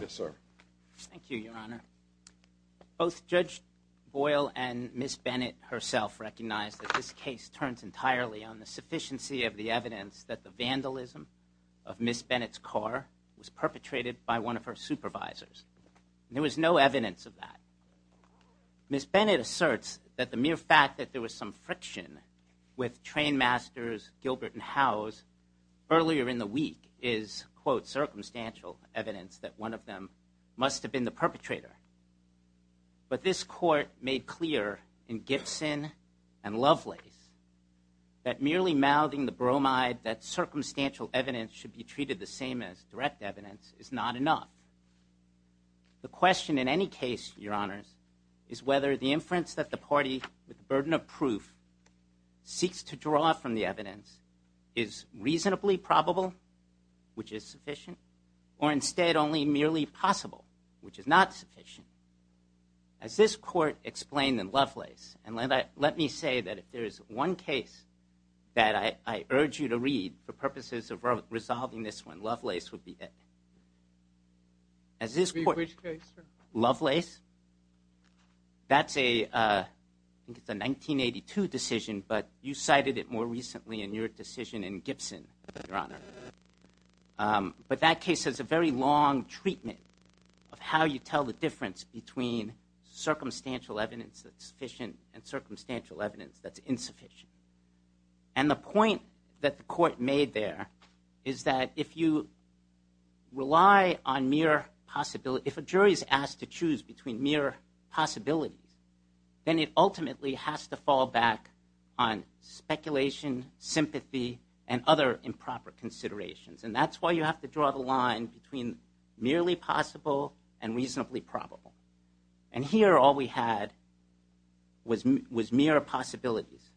Yes, sir. Thank you, Your Honor. Both Judge Boyle and Ms. Bennett herself recognize that this case turns entirely on the sufficiency of the evidence that the vandalism of Ms. Bennett's car was perpetrated by one of her supervisors. There was no evidence of that. Ms. Bennett asserts that the mere fact that there was some friction with trainmasters Gilbert and Howes earlier in the week is, quote, circumstantial evidence that one of them must have been the perpetrator. But this court made clear in Gibson and Lovelace that merely mouthing the bromide that circumstantial evidence should be treated the same as direct evidence is not enough. The question in any case, Your Honors, is whether the inference that the party, with the burden of proof, seeks to draw from the evidence is reasonably probable, which is sufficient, or instead only merely possible, which is not sufficient. As this court explained in Lovelace, and let me say that if there is one case that I urge you to read for purposes of resolving this one, Lovelace would be it. Which case, sir? Lovelace. That's a, I think it's a 1982 decision, but you cited it more recently in your decision in Gibson, Your Honor. But that case has a very long treatment of how you tell the difference between circumstantial evidence that's sufficient and circumstantial evidence that's insufficient. And the point that the court made there is that if you rely on mere possibility, if a jury is asked to choose between mere possibilities, then it ultimately has to fall back on speculation, sympathy, and other improper considerations. And that's why you have to draw the line between reasonably probable. And here all we had was mere possibilities.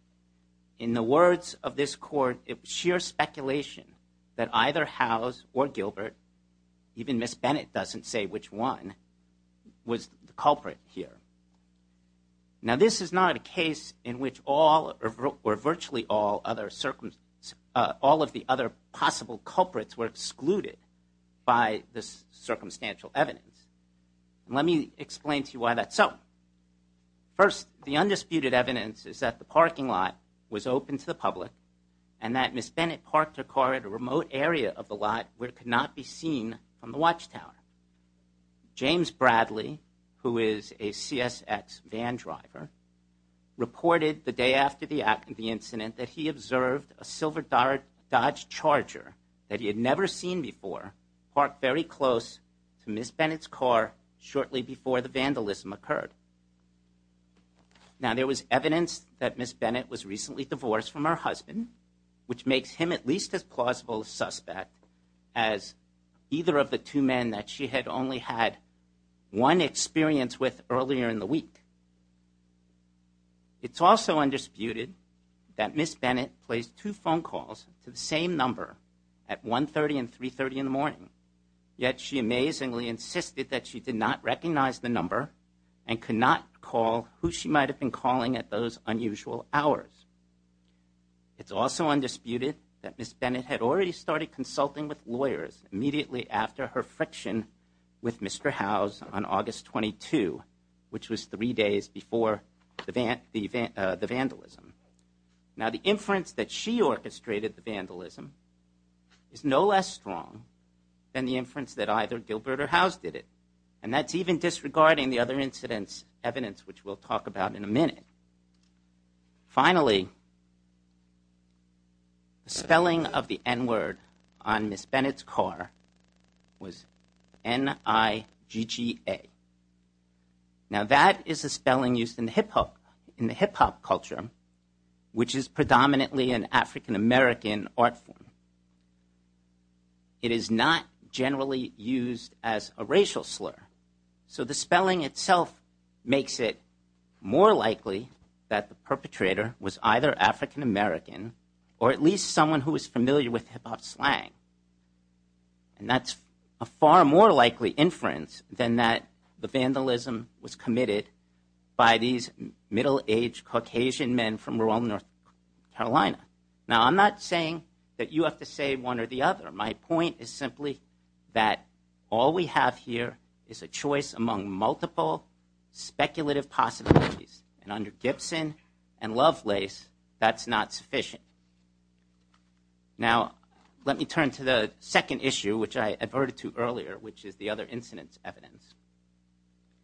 In the words of this court, it was sheer speculation that either Howes or Gilbert, even Miss Bennett doesn't say which one, was the culprit here. Now this is not a case in which all or virtually all of the other possible culprits were excluded by this circumstantial evidence. Let me explain to you why that's so. First, the undisputed evidence is that the parking lot was open to the public and that Miss Bennett parked her car at a remote area of the lot where it could not be seen from the watchtower. James Bradley, who is a CSX van driver, reported the day after the incident that he observed a silver Dodge Charger that he had never seen before parked very close to Miss Bennett's car shortly before the vandalism occurred. Now there was evidence that Miss Bennett was recently divorced from her husband, which makes him at least as plausible suspect as either of the two men that she had only had one experience with earlier in the week. It's also undisputed that Miss Bennett placed two phone calls to the same number at 1.30 and 3.30 in the morning, yet she amazingly insisted that she did not recognize the number and could not call who she might have been calling at those unusual hours. It's also undisputed that Miss Bennett had already started consulting with lawyers immediately after her friction with Mr. Howes on August 22, which was three days before the vandalism. Now the inference that she orchestrated the vandalism is no less strong than the inference that either Gilbert or Howes did it, and that's even disregarding the other incidents evidence which we'll talk about in a minute. Finally, the spelling of the n-word on is a spelling used in the hip-hop culture, which is predominantly an African-American art form. It is not generally used as a racial slur, so the spelling itself makes it more likely that the perpetrator was either African-American or at least someone who is familiar with hip-hop slang, and that's a far more likely inference than that the vandalism was committed by these middle-aged Caucasian men from rural North Carolina. Now I'm not saying that you have to say one or the other. My point is simply that all we have here is a choice among multiple speculative possibilities, and under Gibson and Lovelace, that's not sufficient. Now let me turn to the second issue which I adverted to earlier, which is the other incidents evidence.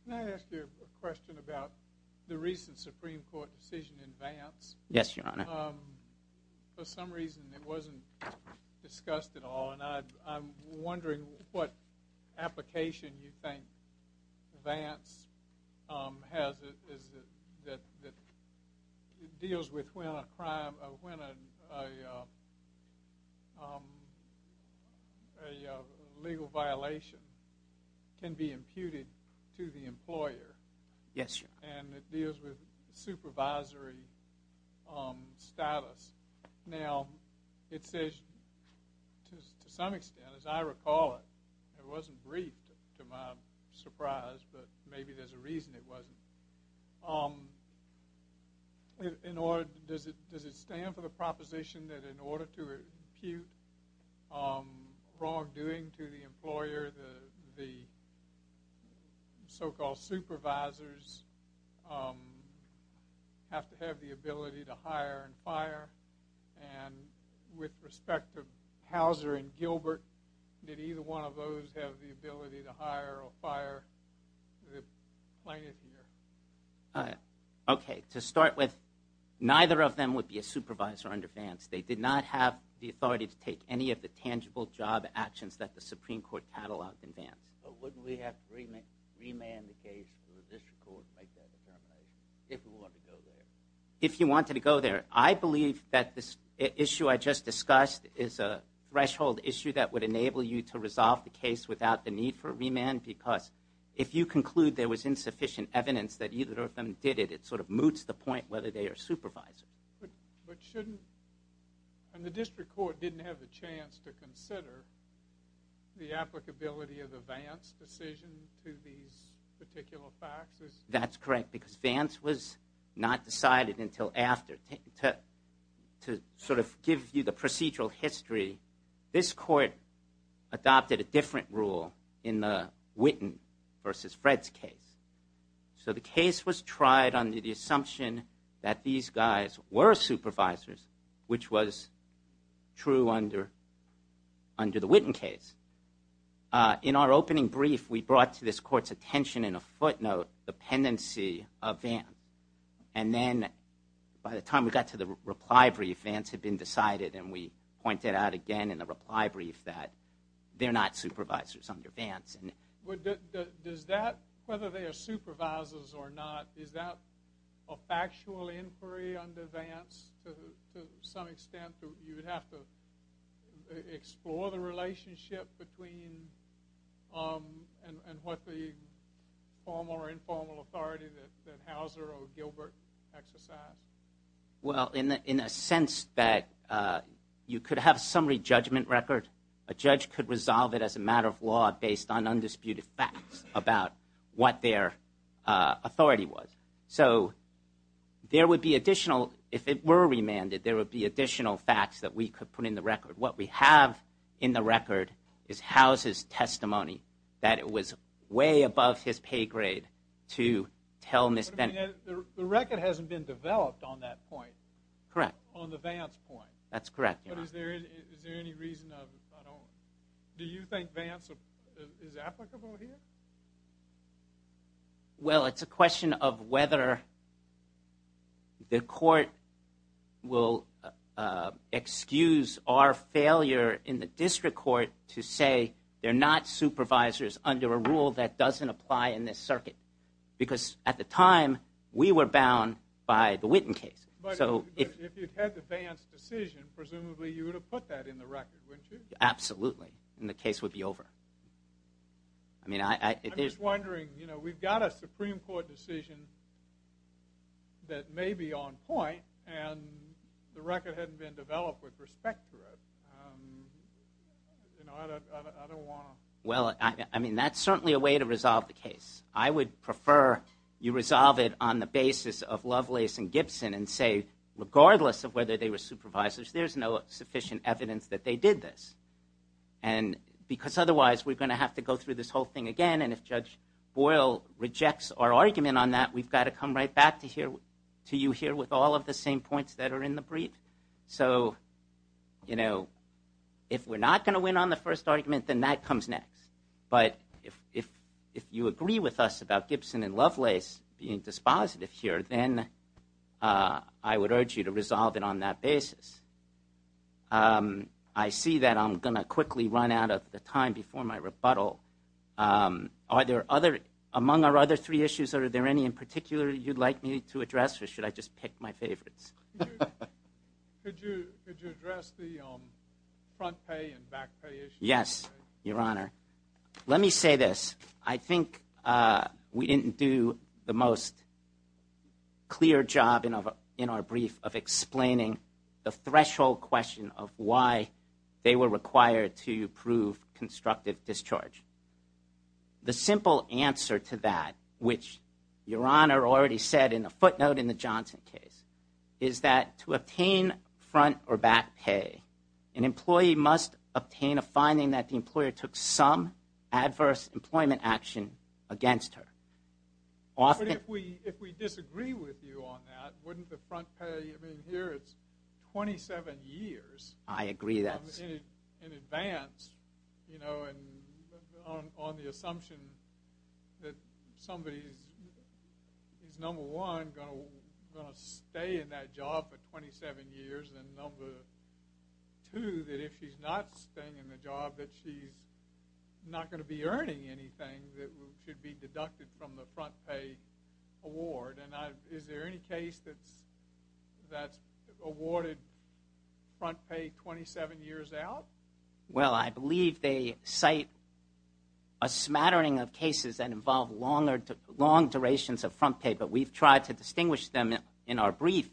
Can I ask you a question about the recent Supreme Court decision in Vance? Yes, Your Honor. For some reason it wasn't discussed at all, and I'm wondering what application you think Vance has that deals with when a crime, when a legal violation can be imputed to the employer. Yes, Your Honor. And it deals with supervisory status. Now it says to some extent, as I recall it, it wasn't briefed to my surprise, but maybe there's a reason it wasn't. In order, does it stand for the proposition that in order to impute wrongdoing to the employer, the so-called supervisors have to have the ability to hire and fire? And with respect to Hauser and Gilbert, did either one of those have the ability to hire or fire? Okay, to start with, neither of them would be a supervisor under Vance. They did not have the authority to take any of the tangible job actions that the Supreme Court cataloged in Vance. But wouldn't we have to remand the case to the district court to make that determination, if we wanted to go there? If you wanted to go there, I believe that this issue I just discussed is a threshold issue that would enable you to resolve the case without the need for a remand, because if you conclude there was insufficient evidence that either of them did it, it sort of moots the point whether they are supervisors. But shouldn't, and the district court didn't have the chance to consider the applicability of the Vance decision to these particular facts? That's correct, because Vance was not decided until after. To sort of give you the procedural history, this court adopted a different rule in the Witten versus Fred's case. So the case was tried under the assumption that these guys were supervisors, which was true under the Witten case. In our opening brief, we brought to this court's attention in a footnote the pendency of Vance. And then, by the time we got to the reply brief, Vance had been decided. And we pointed out again in the reply brief that they're not supervisors under Vance. Does that, whether they are supervisors or not, is that a factual inquiry under Vance to some extent? You would have to explore the relationship between and what the formal or informal authority that Hauser or Gilbert exercised? Well, in a sense that you could have a summary judgment record. A judge could resolve it as a matter of law based on undisputed facts about what their authority was. So there would be additional, if it were remanded, there would be additional facts that we could put in the record. What we have in the record is Hauser's testimony, that it was way above his pay grade to tell Ms. Bennett. The record hasn't been developed on that point. Correct. On the Vance point. That's correct. But is there any reason of, I don't, do you think Vance is applicable here? Well, it's a question of whether the court will excuse our failure in the district court to say they're not supervisors under a rule that doesn't apply in this circuit. Because at the time, we were bound by the Witten case. But if you had the Vance decision, presumably you would have put that in the record, wouldn't you? Absolutely. And the case would be over. I'm just wondering, you know, we've got a Supreme Court decision that may be on point and the record hadn't been developed with respect to it. You know, I don't want to... Well, I mean, that's certainly a way to resolve the case. I would prefer you resolve it on the basis of Lovelace and Gibson and say, regardless of whether they were supervisors, there's no sufficient evidence that they did this. And because otherwise, we're going to have to go through this whole thing again. And if Judge Boyle rejects our argument on that, we've got to come right back to you here with all of the same points that are in the brief. So, you know, if we're not going to win on the first argument, then that comes next. But if you agree with us about Gibson and Lovelace being dispositive here, then I would urge you to resolve it on that basis. I see that I'm going to quickly run out of the time before my rebuttal. Are there other... Among our other three issues, are there any in particular you'd like me to address or should I just pick my favorites? Could you address the front pay and back pay issue? Yes, Your Honor. Let me say this. I think we didn't do the most clear job in our brief of explaining the threshold question of why they were required to prove constructive discharge. The simple answer to that, which Your Honor already said in a footnote in the Johnson case, is that to obtain front or back pay, an employee must obtain a finding that the action against her. Often... But if we disagree with you on that, wouldn't the front pay, I mean, here it's 27 years in advance, you know, on the assumption that somebody is, number one, going to stay in that job for 27 years, and number two, that if she's not staying in the job, that she's not going to be earning anything that should be deducted from the front pay award? And is there any case that's awarded front pay 27 years out? Well, I believe they cite a smattering of cases that involve longer, long durations of front pay, but we've tried to distinguish them in our brief.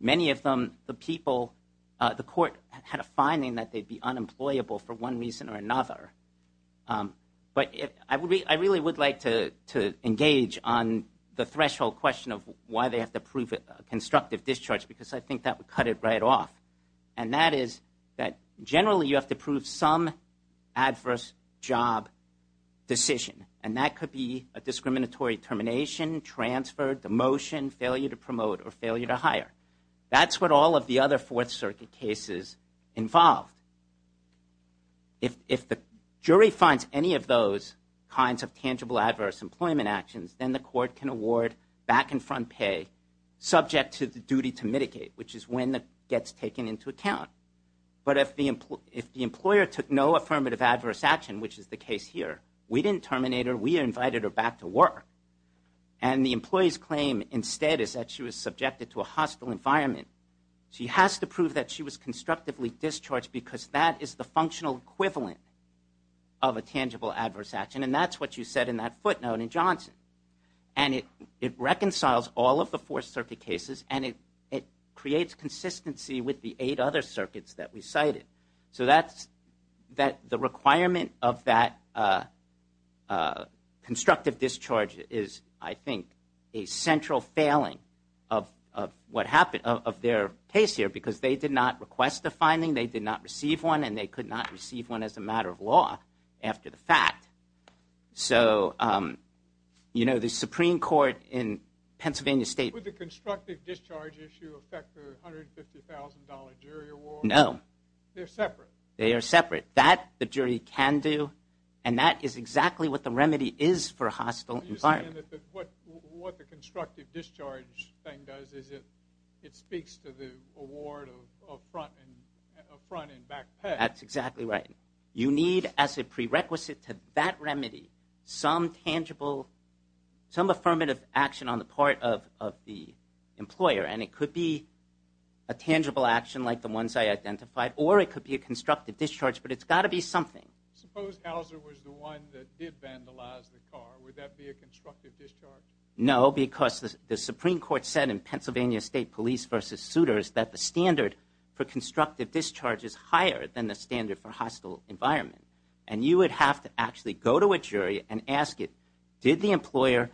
Many of them, the people, the court had a finding that they'd be unemployable for one reason or another. But I really would like to engage on the threshold question of why they have to prove constructive discharge, because I think that would cut it right off. And that is that generally you have to prove some adverse job decision, and that could be a discriminatory termination, transfer, demotion, failure to promote, or failure to hire. That's what all of the other Fourth Circuit cases involved. If the jury finds any of those kinds of tangible adverse employment actions, then the court can award back and front pay subject to the duty to mitigate, which is when that gets taken into account. But if the employer took no affirmative adverse action, which is the case here, we didn't terminate her. We invited her back to work. And the employee's claim instead is that she was subjected to a hostile environment. She has to prove that she was constructively discharged because that is the functional equivalent of a tangible adverse action. And that's what you said in that footnote in Johnson. And it reconciles all of the Fourth Circuit cases, and it creates consistency with the eight other circuits that we cited. So the requirement of that constructive discharge is, I think, a central failing of their case here, because they did not request a finding, they did not receive one, and they could not receive one as a matter of law after the fact. So the Supreme Court in Pennsylvania State… Would the constructive discharge issue affect the $150,000 jury award? No. They're separate. They are separate. That the jury can do, and that is exactly what the remedy is for a hostile environment. What the constructive discharge thing does is it speaks to the award of front and back pay. That's exactly right. You need, as a prerequisite to that remedy, some tangible, some affirmative action on the part of the employer. And it could be a tangible action like the ones I identified, or it could be a constructive discharge, but it's got to be something. Suppose Hauser was the one that did vandalize the car. Would that be a constructive discharge? No, because the Supreme Court said in Pennsylvania State Police v. Suitors that the standard for constructive discharge is higher than the standard for hostile environment. And you would have to actually go to a jury and ask it, did the employer…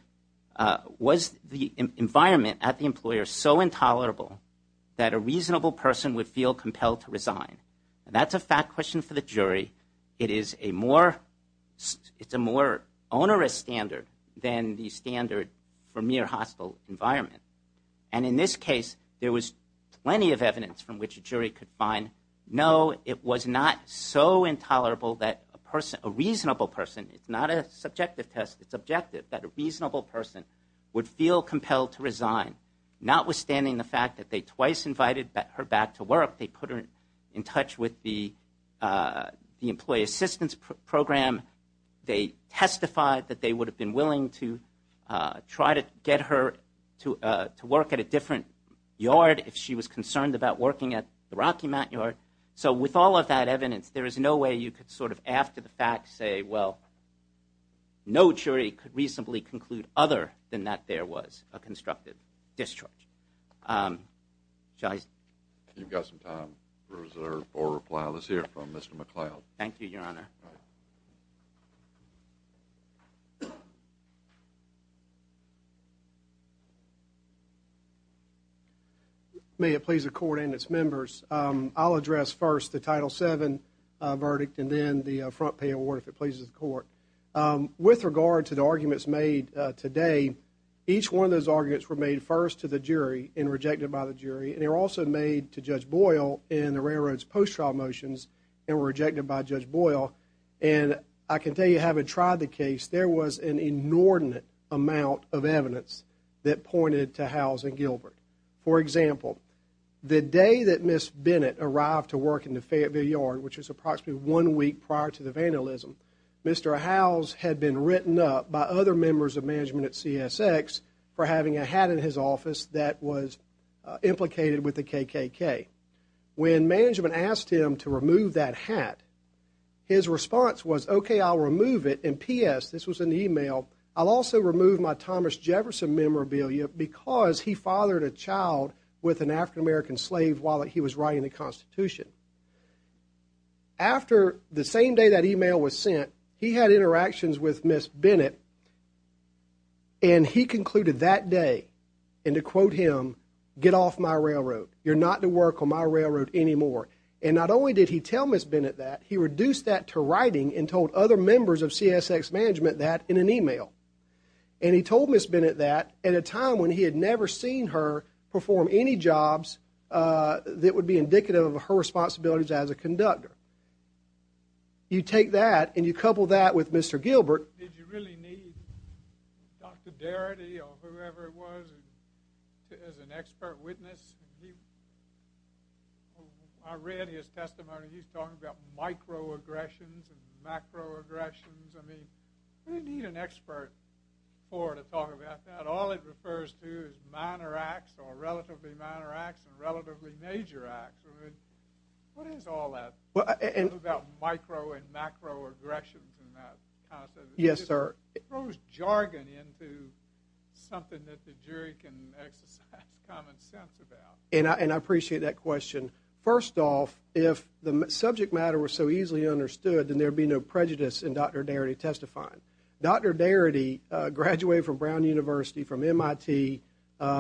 Was the environment at the employer so intolerable that a reasonable person would feel compelled to resign? And that's a fact question for the jury. It is a more, it's a more onerous standard than the standard for mere hostile environment. And in this case, there was plenty of evidence from which a jury could find, no, it was not so intolerable that a person, a reasonable person, it's not a subjective test, it's a reasonable person, would feel compelled to resign, notwithstanding the fact that they twice invited her back to work. They put her in touch with the employee assistance program. They testified that they would have been willing to try to get her to work at a different yard if she was concerned about working at the Rocky Mountain Yard. So with all of that evidence, there is no way you could sort of after the fact say, well, no jury could reasonably conclude other than that there was a constructive discharge. Shall I… You've got some time reserved for a reply. Let's hear from Mr. McLeod. Thank you, Your Honor. May it please the Court and its members, I'll address first the Title VII verdict and then the front pay award if it pleases the Court. With regard to the arguments made today, each one of those arguments were made first to the jury and rejected by the jury. And they were also made to Judge Boyle in the Railroad's post-trial motions and were rejected by Judge Boyle. And I can tell you, having tried the case, there was an inordinate amount of evidence that pointed to Howes and Gilbert. For example, the day that Ms. Bennett arrived to work in the Fayetteville Yard, which was approximately one week prior to the vandalism, Mr. Howes had been written up by other members of management at CSX for having a hat in his office that was implicated with the KKK. When management asked him to remove that hat, his response was, okay, I'll remove it. And P.S., this was in the email, I'll also remove my Thomas Jefferson memorabilia because he fathered a child with an African-American slave while he was writing the Constitution. After the same day that email was sent, he had interactions with Ms. Bennett, and he concluded that day, and to quote him, get off my railroad. You're not to work on my railroad anymore. And not only did he tell Ms. Bennett that, he reduced that to writing and told other members of CSX management that in an email. And he told Ms. Bennett that at a time when he had never seen her perform any jobs that would be indicative of her responsibilities as a conductor. You take that and you couple that with Mr. Gilbert. Did you really need Dr. Darity or whoever it was as an expert witness? I read his testimony. He's talking about microaggressions and macroaggressions. I mean, who do you need an expert for to talk about that? All it refers to is minor acts or relatively minor acts and relatively major acts. What is all that about micro and macroaggressions and that concept? It throws jargon into something that the jury can exercise common sense about. And I appreciate that question. First off, if the subject matter was so easily understood, then there would be no prejudice in Dr. Darity testifying. Dr. Darity graduated from Brown University from MIT.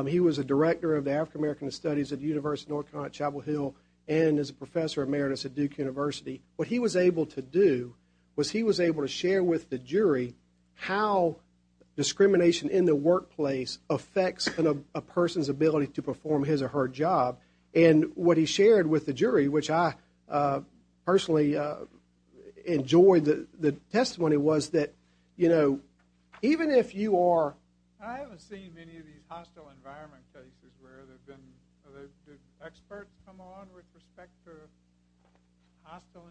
He was a director of the African American Studies at the University of North Carolina at Chapel Hill and is a professor emeritus at Duke University. What he was able to do was he was able to share with the jury how discrimination in the workplace affects a person's ability to perform his or her job. And what he shared with the jury, which I personally enjoyed the testimony, was that even if you are- I haven't seen many of these hostile environment cases where there have been experts come on with respect to these hostile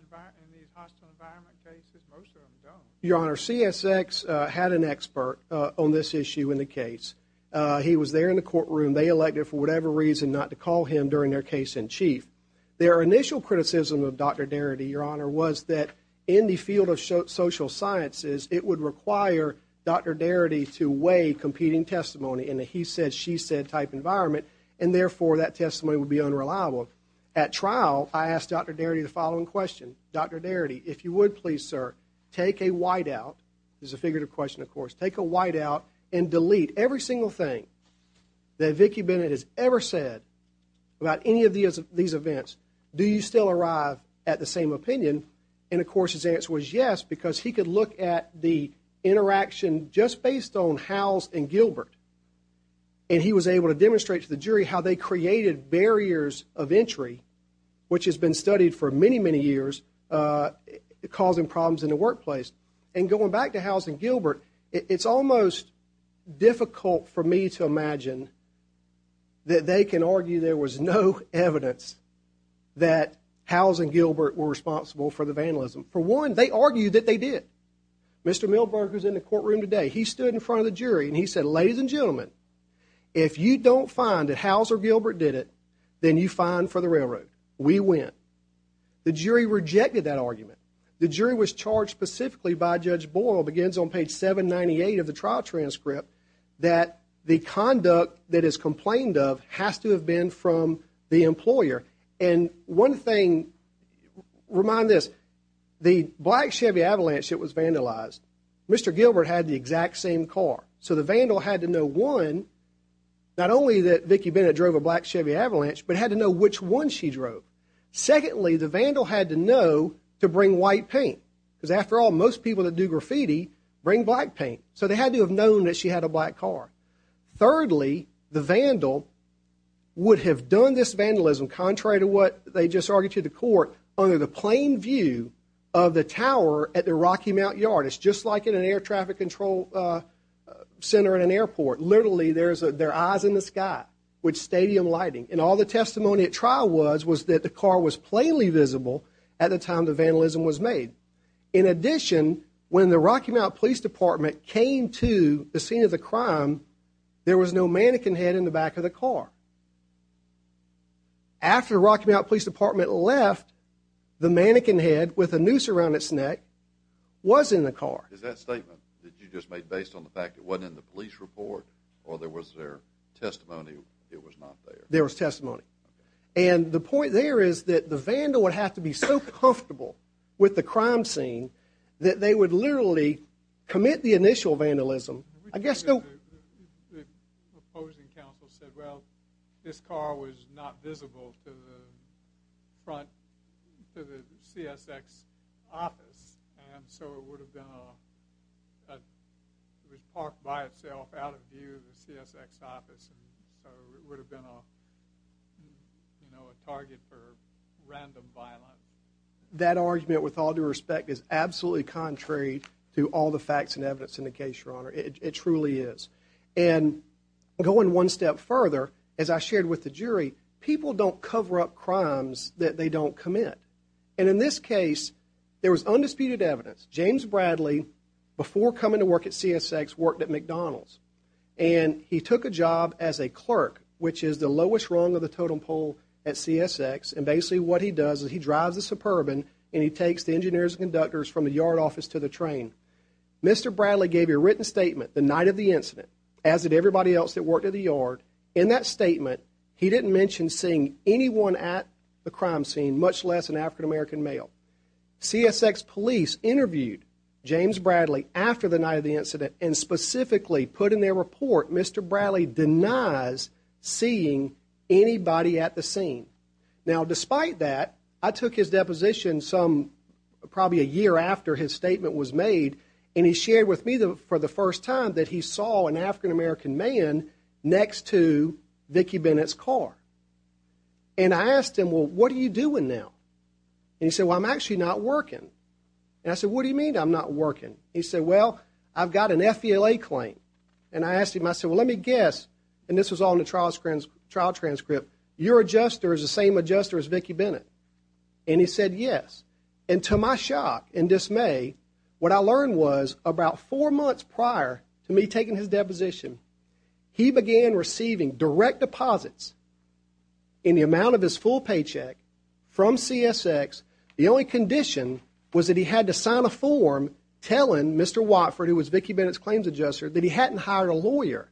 environment cases. Most of them don't. Your Honor, CSX had an expert on this issue in the case. He was there in the courtroom. They elected for whatever reason not to call him during their case in chief. Their initial criticism of Dr. Darity, Your Honor, was that in the field of social sciences, it would require Dr. Darity to weigh competing testimony in a he-said-she-said type environment and therefore that testimony would be unreliable. At trial, I asked Dr. Darity the following question. Dr. Darity, if you would please, sir, take a whiteout. This is a figurative question, of course. Take a whiteout and delete every single thing that Vicki Bennett has ever said about any of these events. Do you still arrive at the same opinion? And, of course, his answer was yes because he could look at the interaction just based on Howes and Gilbert. And he was able to demonstrate to the jury how they created barriers of entry, which has been studied for many, many years, causing problems in the workplace. And going back to Howes and Gilbert, it's almost difficult for me to imagine that they can argue there was no evidence that Howes and Gilbert were responsible for the vandalism. For one, they argued that they did. Mr. Milburn, who's in the courtroom today, he stood in front of the jury and he said, ladies and gentlemen, if you don't find that Howes or Gilbert did it, then you're fined for the railroad. We win. The jury rejected that argument. The jury was charged specifically by Judge Boyle, begins on page 798 of the trial transcript, that the conduct that is complained of has to have been from the employer. And one thing, remind this, the black Chevy Avalanche that was vandalized, Mr. Gilbert had the exact same car. So the vandal had to know one, not only that Vicki Bennett drove a black Chevy Avalanche, but had to know which one she drove. Secondly, the vandal had to know to bring white paint because, after all, most people that do graffiti bring black paint. So they had to have known that she had a black car. Thirdly, the vandal would have done this vandalism, contrary to what they just argued to the court, under the plain view of the tower at the Rocky Mount yard. It's just like in an air traffic control center in an airport. Literally, there's their eyes in the sky with stadium lighting. And all the testimony at trial was, was that the car was plainly visible at the time the vandalism was made. In addition, when the Rocky Mount Police Department came to the scene of the crime, there was no mannequin head in the back of the car. After the Rocky Mount Police Department left, the mannequin head with a noose around its neck was in the car. Is that statement that you just made based on the fact it wasn't in the police report, or there was their testimony it was not there? There was testimony. And the point there is that the vandal would have to be so comfortable with the crime scene that they would literally commit the initial vandalism. I guess the opposing counsel said, well, this car was not visible to the front, to the CSX office. And so it would have been a, it was parked by itself out of view of the CSX office. And so it would have been a, you know, a target for random violence. That argument, with all due respect, is absolutely contrary to all the facts and evidence in the case, Your Honor. It truly is. And going one step further, as I shared with the jury, people don't cover up crimes that they don't commit. And in this case, there was undisputed evidence. James Bradley, before coming to work at CSX, worked at McDonald's. And he took a job as a clerk, which is the lowest rung of the totem pole at CSX. And basically what he does is he drives a Suburban and he takes the engineers and conductors from the yard office to the train. Mr. Bradley gave a written statement the night of the incident, as did everybody else that worked at the yard. In that statement, he didn't mention seeing anyone at the crime scene, much less an African-American male. CSX police interviewed James Bradley after the night of the incident and specifically put in their report Mr. Bradley denies seeing anybody at the scene. Now, despite that, I took his deposition some, probably a year after his statement was made, and he shared with me for the first time that he saw an African-American man next to Vicki Bennett's car. And I asked him, well, what are you doing now? And he said, well, I'm actually not working. And I said, what do you mean I'm not working? He said, well, I've got an FELA claim. And I asked him, I said, well, let me guess, and this was all in the trial transcript, your adjuster is the same adjuster as Vicki Bennett. And he said, yes. And to my shock and dismay, what I learned was about four months prior to me taking his deposition, he began receiving direct deposits in the amount of his full paycheck from CSX. The only condition was that he had to sign a form telling Mr. Watford, who was Vicki Bennett's claims adjuster, that he hadn't hired a lawyer.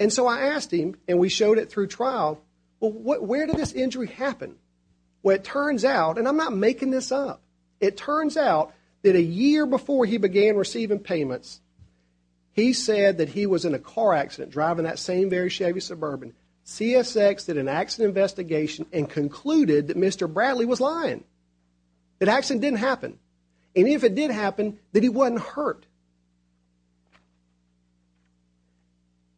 And so I asked him, and we showed it through trial, where did this injury happen? Well, it turns out, and I'm not making this up, it turns out that a year before he began receiving payments, he said that he was in a car accident driving that same very Chevy Suburban. CSX did an accident investigation and concluded that Mr. Bradley was lying. It actually didn't happen. And if it did happen, it meant that he wasn't hurt.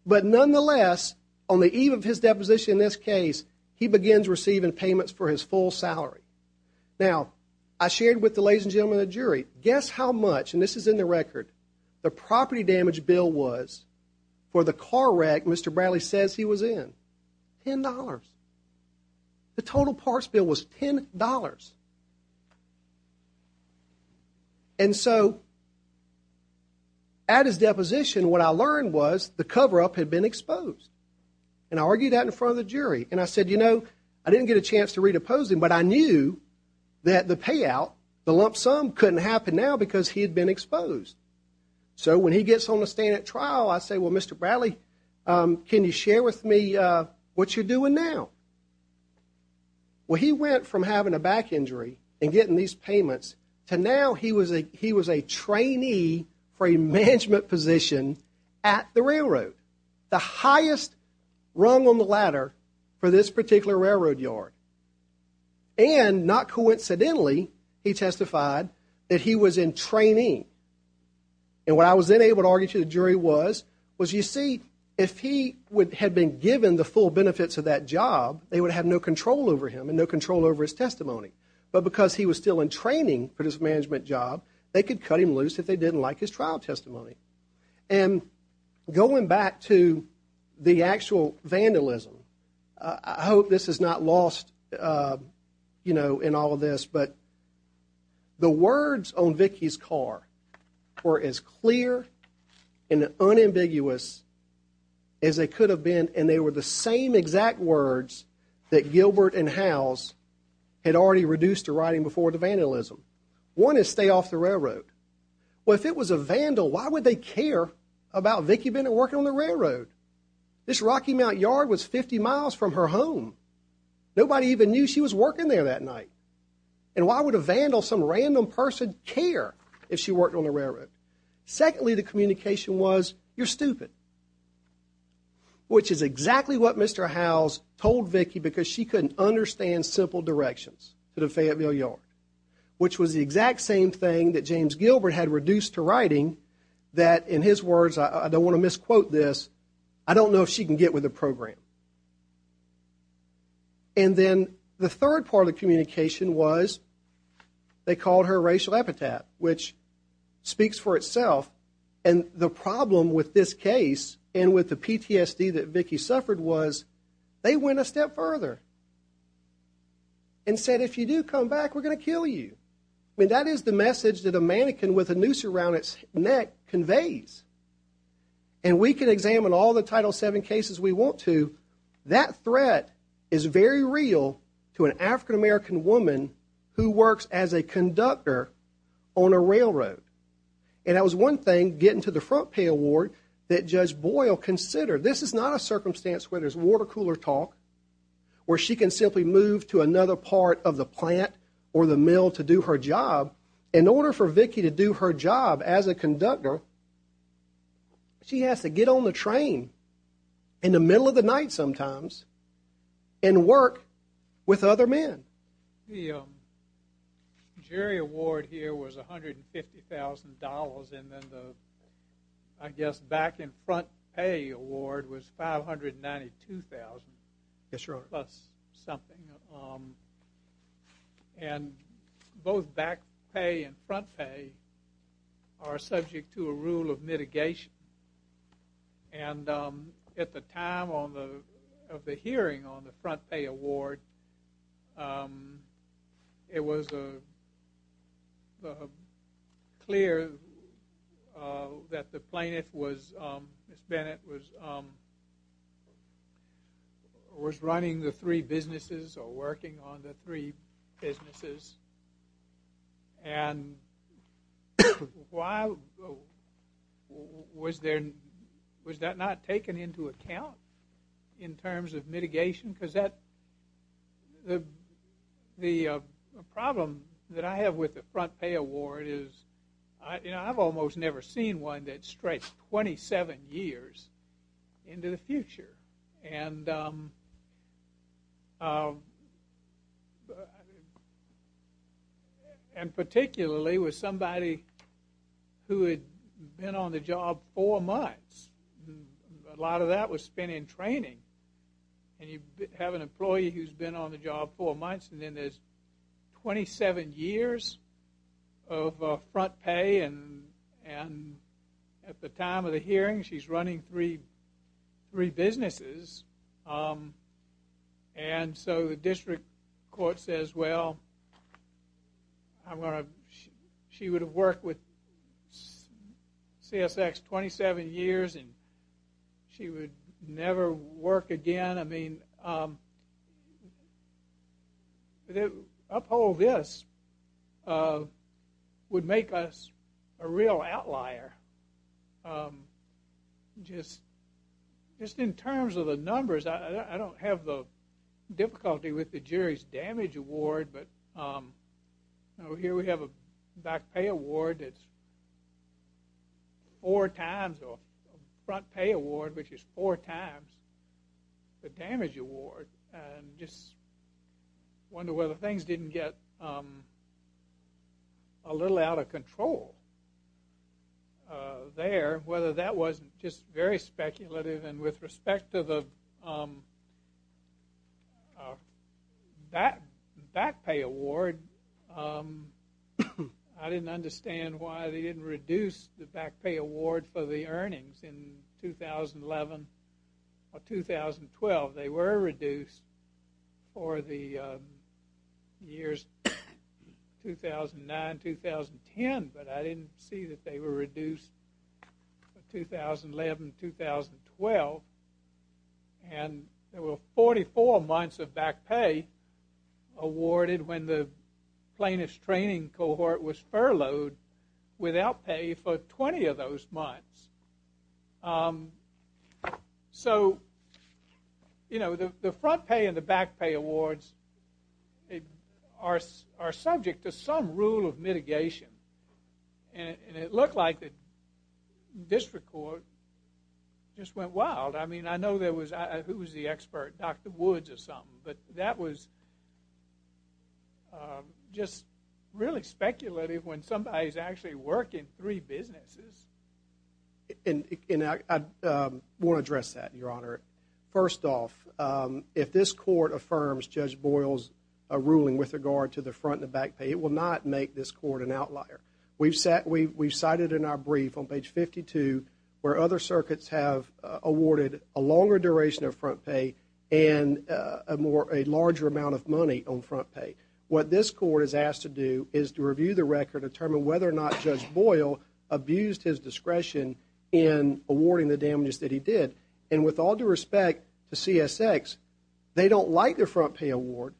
But nonetheless, on the eve of his deposition in this case, he begins receiving payments for his full salary. Now, I shared with the ladies and gentlemen of the jury, guess how much, and this is in the record, the property damage bill was for the car wreck Mr. Bradley says he was in? $10. The total parts bill was $10. And so at his deposition, what I learned was the cover-up had been exposed. And I argued that in front of the jury, and I said, you know, I didn't get a chance to re-depose him, but I knew that the payout, the lump sum couldn't happen now because he had been exposed. So when he gets on the stand at trial, I say, well, Mr. Bradley, can you share with me what you're doing now? Well, he went from having a back injury and getting these payments to now he was a trainee for a management position at the railroad. The highest rung on the ladder for this particular railroad yard. And not coincidentally, he testified that he was in training. And what I was then able to argue to the jury was, was you see, if he had been given the full benefits of that job, they would have no control over him and no control over his testimony. But because he was still in training for this management job, they could cut him loose if they didn't like his trial testimony. And going back to the actual vandalism, I hope this is not lost, you know, in all of this, but the words on Vicky's car were as clear and unambiguous as they could have been. And they were the same exact words that Gilbert and Howes had already reduced to writing before the vandalism. One is stay off the railroad. Well, if it was a vandal, why would they care about Vicky Bennett working on the railroad? This Rocky Mount yard was 50 miles from her home. Nobody even knew she was working there that night. And why would a vandal, some random person, care if she worked on the railroad? Secondly, the communication was, you're stupid. Which is exactly what Mr. Howes told Vicky because she couldn't understand simple directions to the Fayetteville yard. Which was the exact same thing that James Gilbert had reduced to writing that in his words, I don't want to misquote this, I don't know if she can get with the program. And then the third part of the communication was they called her racial epitaph, which speaks for itself. And the problem with this case and with the PTSD that Vicky suffered was they went a step further and said if you do come back we're going to kill you. I mean that is the message that a mannequin with a noose around its neck conveys. And we can examine all the Title VII cases we want to, that threat is very real to an African American woman who works as a conductor on a railroad. And that was one thing getting to the front pay award that Judge Boyle considered. This is not a circumstance where there's water cooler talk where she can simply move to another part of the plant or the mill to do her job. In order for Vicky to do her job as a conductor she has to get on the train in the middle of the night sometimes and work with other men. The jury award here was $150,000 and then the I guess back in front pay award was $592,000 plus something. And both back pay and front pay are subject to a rule of mitigation. And at the time of the hearing on the front pay award it was clear that the plaintiff was Ms. Bennett was was running the three businesses or working on the three businesses and why was there was that not taken into account in terms of mitigation? Because that the problem that I have with the front pay award is I've almost never seen one that stretched 27 years into the future. And particularly with somebody who had been on the job four months a lot of that was spent in training and you have an employee who's been on the job four months and then there's 27 years of front pay and at the time of the hearing she's running three businesses and so the district court says well she would have worked with CSX 27 years and she would never work again I mean uphold this would make us a real outlier just in terms of the numbers I don't have the difficulty with the jury's damage award but here we have a back pay award that's four times a front pay award which is four times the damage award and just wonder whether things didn't get a little out of control there whether that wasn't just very speculative and with respect to the back pay award I didn't understand why they didn't reduce the back pay award for the earnings in 2011 or 2012 they were reduced for the years 2009, 2010 but I didn't see that they were reduced for 2011 2012 and there were 44 months of back pay awarded when the plaintiff's training cohort was furloughed without pay for 20 of those months um so you know the front pay and the back pay awards are subject to some rule of mitigation and it looked like the district court just went wild I mean I know there was who was the expert Dr. Woods or something but that was just really speculative when somebody's actually working in three businesses and I want to address that your honor first off if this court affirms Judge Boyle's ruling with regard to the front and the back pay it will not make this court an outlier we've cited in our brief on page 52 where other circuits have awarded a longer duration of front pay and a larger amount of money on front pay what this court is asked to do is to review the record to determine whether or not Judge Boyle abused his discretion in awarding the damages that he did and with all due respect to CSX they don't like their front pay award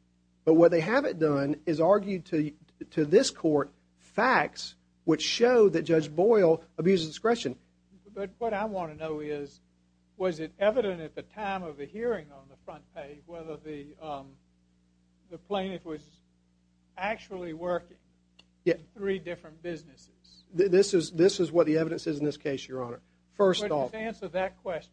but what they haven't done is argued to this court facts which show that Judge Boyle abused discretion but what I want to know is was it evident at the time of the hearing on the front pay whether the um the plaintiff was actually working in three different businesses this is what the evidence is in this case your honor first off answer that question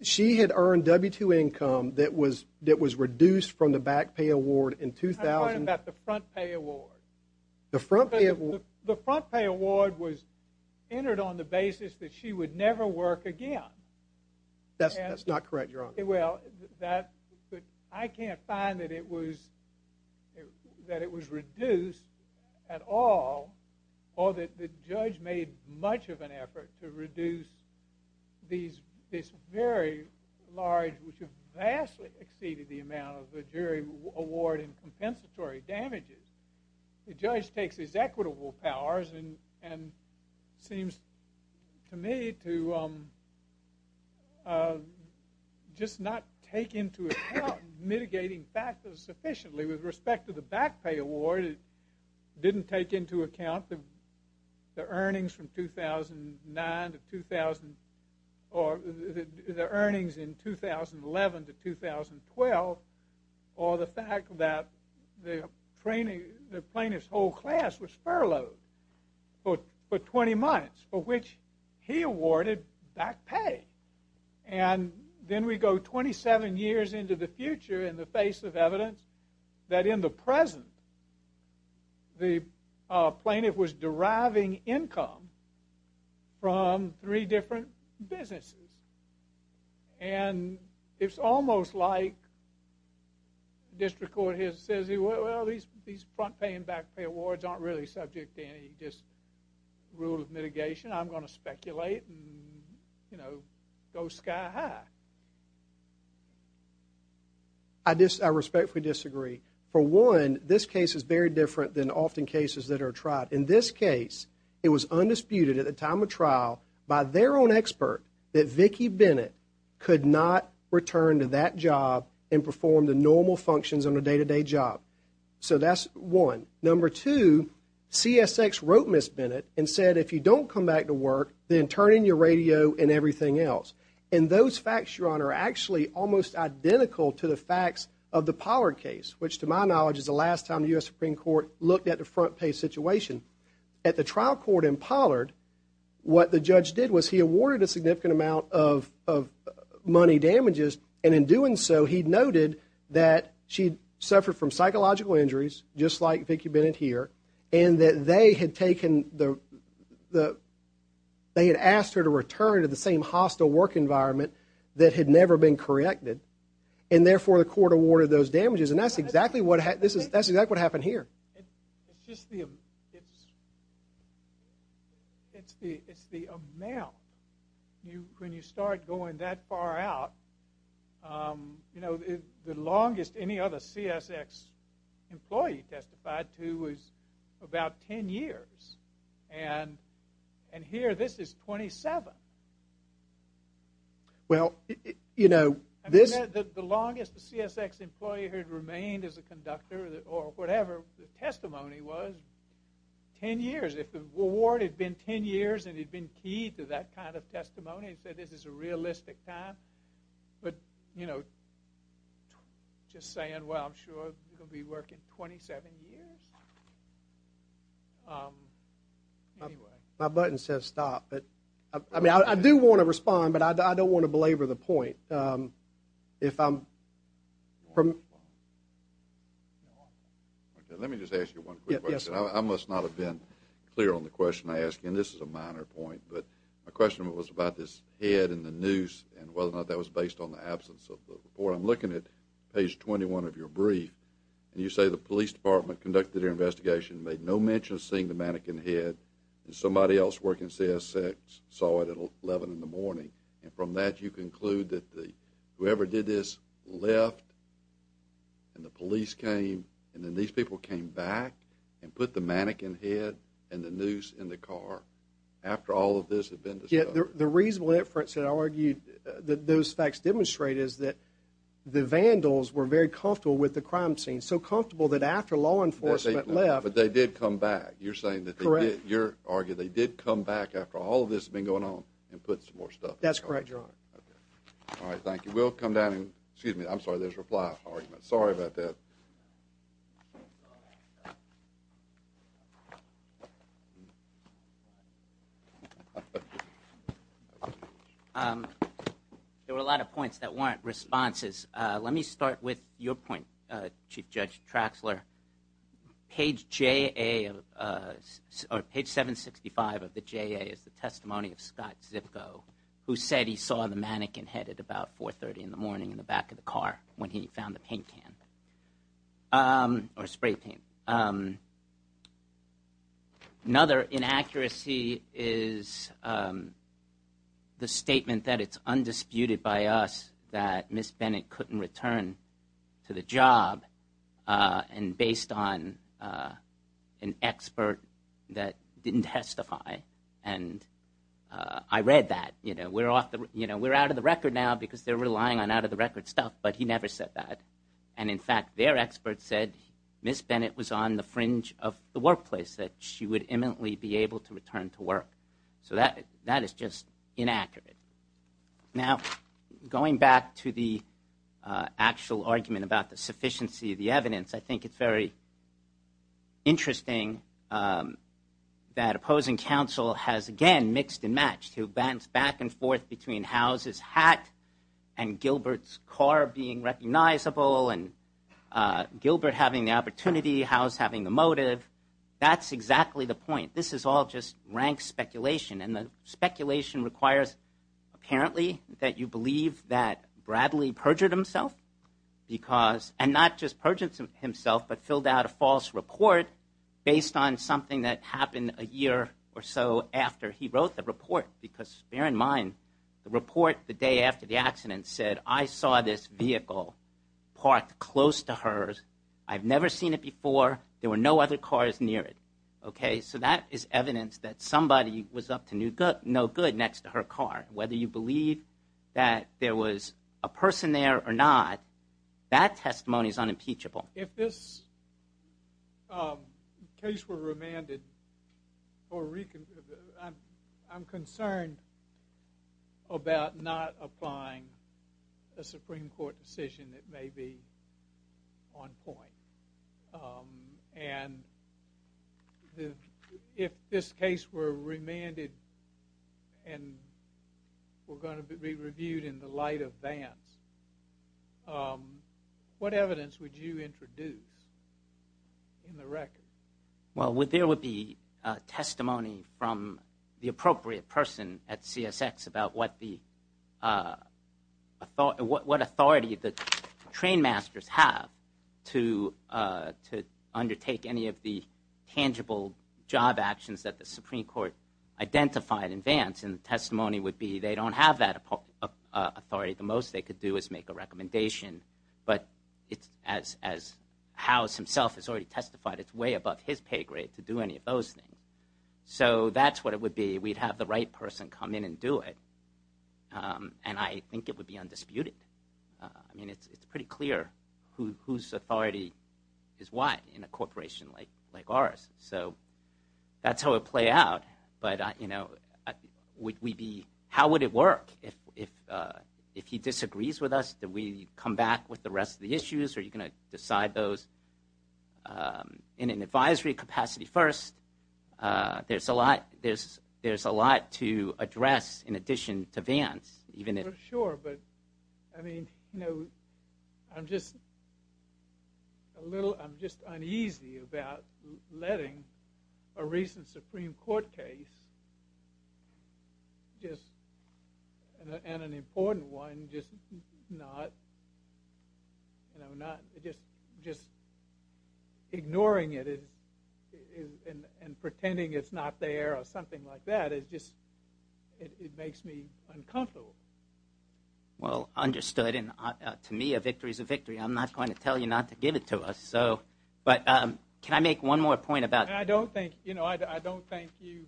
she had earned W-2 income that was that was reduced from the back pay award in 2000 I'm talking about the front pay award the front pay award was entered on the basis that she would never work again that's not correct your honor well that I can't find that it was that it was reduced at all or that the judge made much of an effort to reduce these very large vastly exceeded the amount of the jury award and compensatory damages the judge takes his equitable powers and seems to me to um just not take into account mitigating factors sufficiently with respect to the back pay award it didn't take into account the earnings from 2009 to 2000 or the earnings in 2011 to 2012 or the fact that the plaintiff whole class was furloughed for 20 months for which he awarded back pay and then we go 27 years into the future in the face of evidence that in the present the plaintiff was deriving income from three different businesses and it's almost like district court says well these front pay and back pay awards aren't really subject to any rule of mitigation I'm going to speculate you know go sky high I respectfully disagree for one this case is very different than often cases that are tried in this case it was undisputed at the time of trial by their own expert that Vicky Bennett could not return to that job and perform the normal functions on a day to day job so that's one number two CSX wrote Ms. Bennett and said if you don't come back to work then turn in your radio and everything else and those facts your honor are actually almost identical to the facts of the Pollard case which to my knowledge is the last time the US Supreme Court looked at the front pay situation at the trial court in Pollard what the judge did was he awarded a significant amount of money damages and in doing so he noted that she suffered from and that they had taken they had asked her to return to the same hostile work environment that had never been corrected and therefore the court awarded those damages and that's exactly what happened here it's the amount when you start going that far out you know the longest any other CSX employee testified to was about 10 years and here this is 27 well you know the longest CSX employee had remained as a conductor or whatever the testimony was 10 years if the award had been 10 years and had been key to that kind of testimony and said this is a realistic time but you know just saying well I'm sure you'll be working 27 years anyway my button says stop I do want to respond but I don't want to belabor the point if I'm let me just ask you one quick question I must not have been clear on the question I ask and this is a minor point but my question was about this head and the noose and whether or not that was based on the absence of the report I'm looking at page 21 of your brief and you say the police department conducted an investigation made no mention of seeing the mannequin head and somebody else working CSX saw it at 11 in the morning and from that you conclude that whoever did this left and the police came and then these people came back and put the mannequin head and the noose in the car after all of this had been discovered. The reason for it that those facts demonstrate is that the vandals were very comfortable with the crime scene so comfortable that after law enforcement left. But they did come back you're arguing they did come back after all of this had been going on and put some more stuff in the car. That's correct your honor alright thank you we'll come down excuse me I'm sorry there's a reply argument sorry about that there were a lot of points that weren't responses. Let me start with your point Chief Judge Traxler page J A or page 765 of the J A is the testimony of Scott Zipko who said he saw the mannequin head at about 430 in the morning in the back of the car when he found the paint can or spray paint another inaccuracy is the statement that it's undisputed by us that Ms. Bennett couldn't return to the job and based on an expert that didn't testify and I read that you know we're out of the record now because they're relying on out of the record stuff but he never said that and in fact their expert said Ms. Bennett was on the fringe of the workplace that she would imminently be able to return to work so that is just inaccurate now going back to the actual argument about the sufficiency of the evidence I think it's very interesting that opposing counsel has again mixed and matched back and forth between Howe's hat and Gilbert's car being recognizable and Gilbert having the opportunity Howe's having the motive that's exactly the point this is all just rank speculation and the speculation requires apparently that you believe that Bradley perjured himself because and not just perjured himself but filled out a false report based on something that happened a year or so after he wrote the report because bear in mind the report the day after the accident said I saw this vehicle parked close to hers I've never seen it before there were no other cars near it so that is evidence that somebody was up to no good next to her car whether you believe that there was a person there or not that testimony is unimpeachable If this case were remanded I'm concerned about not applying a Supreme Court decision that may be on point and if this case were remanded and were going to be reviewed in the light of Vance what evidence would you introduce in the record Well there would be testimony from the appropriate person at CSX about what the what authority the train masters have to undertake any of the tangible job actions that the Supreme Court identified in Vance and the testimony would be they don't have that authority the most they could do is make a recommendation but as House himself has already testified it's way above his pay grade to do any of those things so that's what it would be we'd have the right person come in and do it and I think it would be undisputed I mean it's pretty clear whose authority is what in a corporation like ours so that's how it play out but you know we'd be how would it work if he disagrees with us do we come back with the rest of the issues are you going to decide those in an advisory capacity first there's a lot there's a lot to address in addition to Vance sure but I mean you know I'm just I'm just uneasy about letting a recent Supreme Court case just and an important one just not you know not just ignoring it and pretending it's not there or something like that it just it makes me uncomfortable well understood and to me a victory is a victory I'm not going to tell you not to give it to us so can I make one more point about I don't think you know I don't think you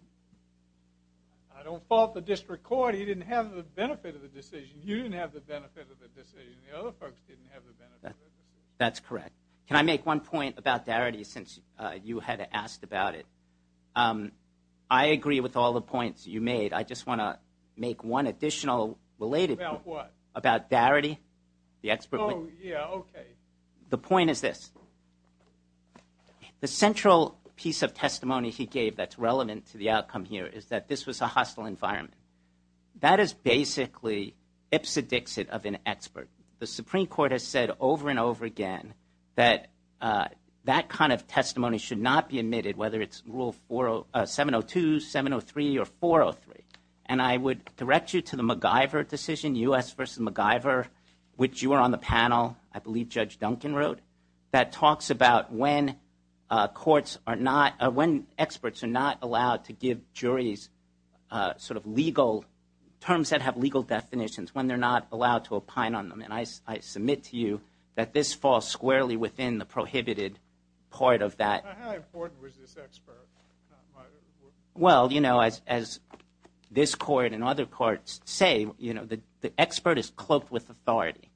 I don't fault the district court he didn't have the benefit of the decision you didn't have the benefit of the decision the other folks didn't have the benefit that's correct can I make one point about Darity since you had asked about it I agree with all the points you made I just want to make one additional related point about Darity oh yeah okay the point is this the central piece of testimony he gave that's relevant to the outcome here is that this was a hostile environment that is basically Ipsa Dixit of an expert the Supreme Court has said over and over again that that kind of testimony should not be admitted whether it's rule 702, 703 or 403 and I would direct you to the MacGyver decision U.S. vs. MacGyver which you are on the panel I believe Judge Duncan wrote that talks about when courts are not when experts are not allowed to give juries sort of legal terms that have legal definitions when they're not allowed to opine on them and I submit to you that this falls squarely within the prohibited part of that how important was this expert well you know as this court and other courts say you know the expert is cloaked with authority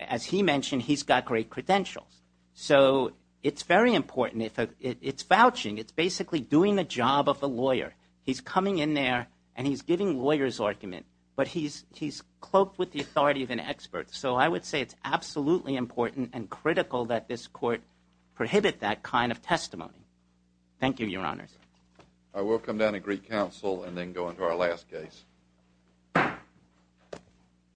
as he mentioned he's got great credentials so it's very important it's vouching it's basically doing the job of a lawyer he's coming in there and he's giving lawyers argument but he's so I would say it's absolutely important and critical that this court prohibit that kind of testimony thank you your honors I will come down and greet counsel and then go into our last case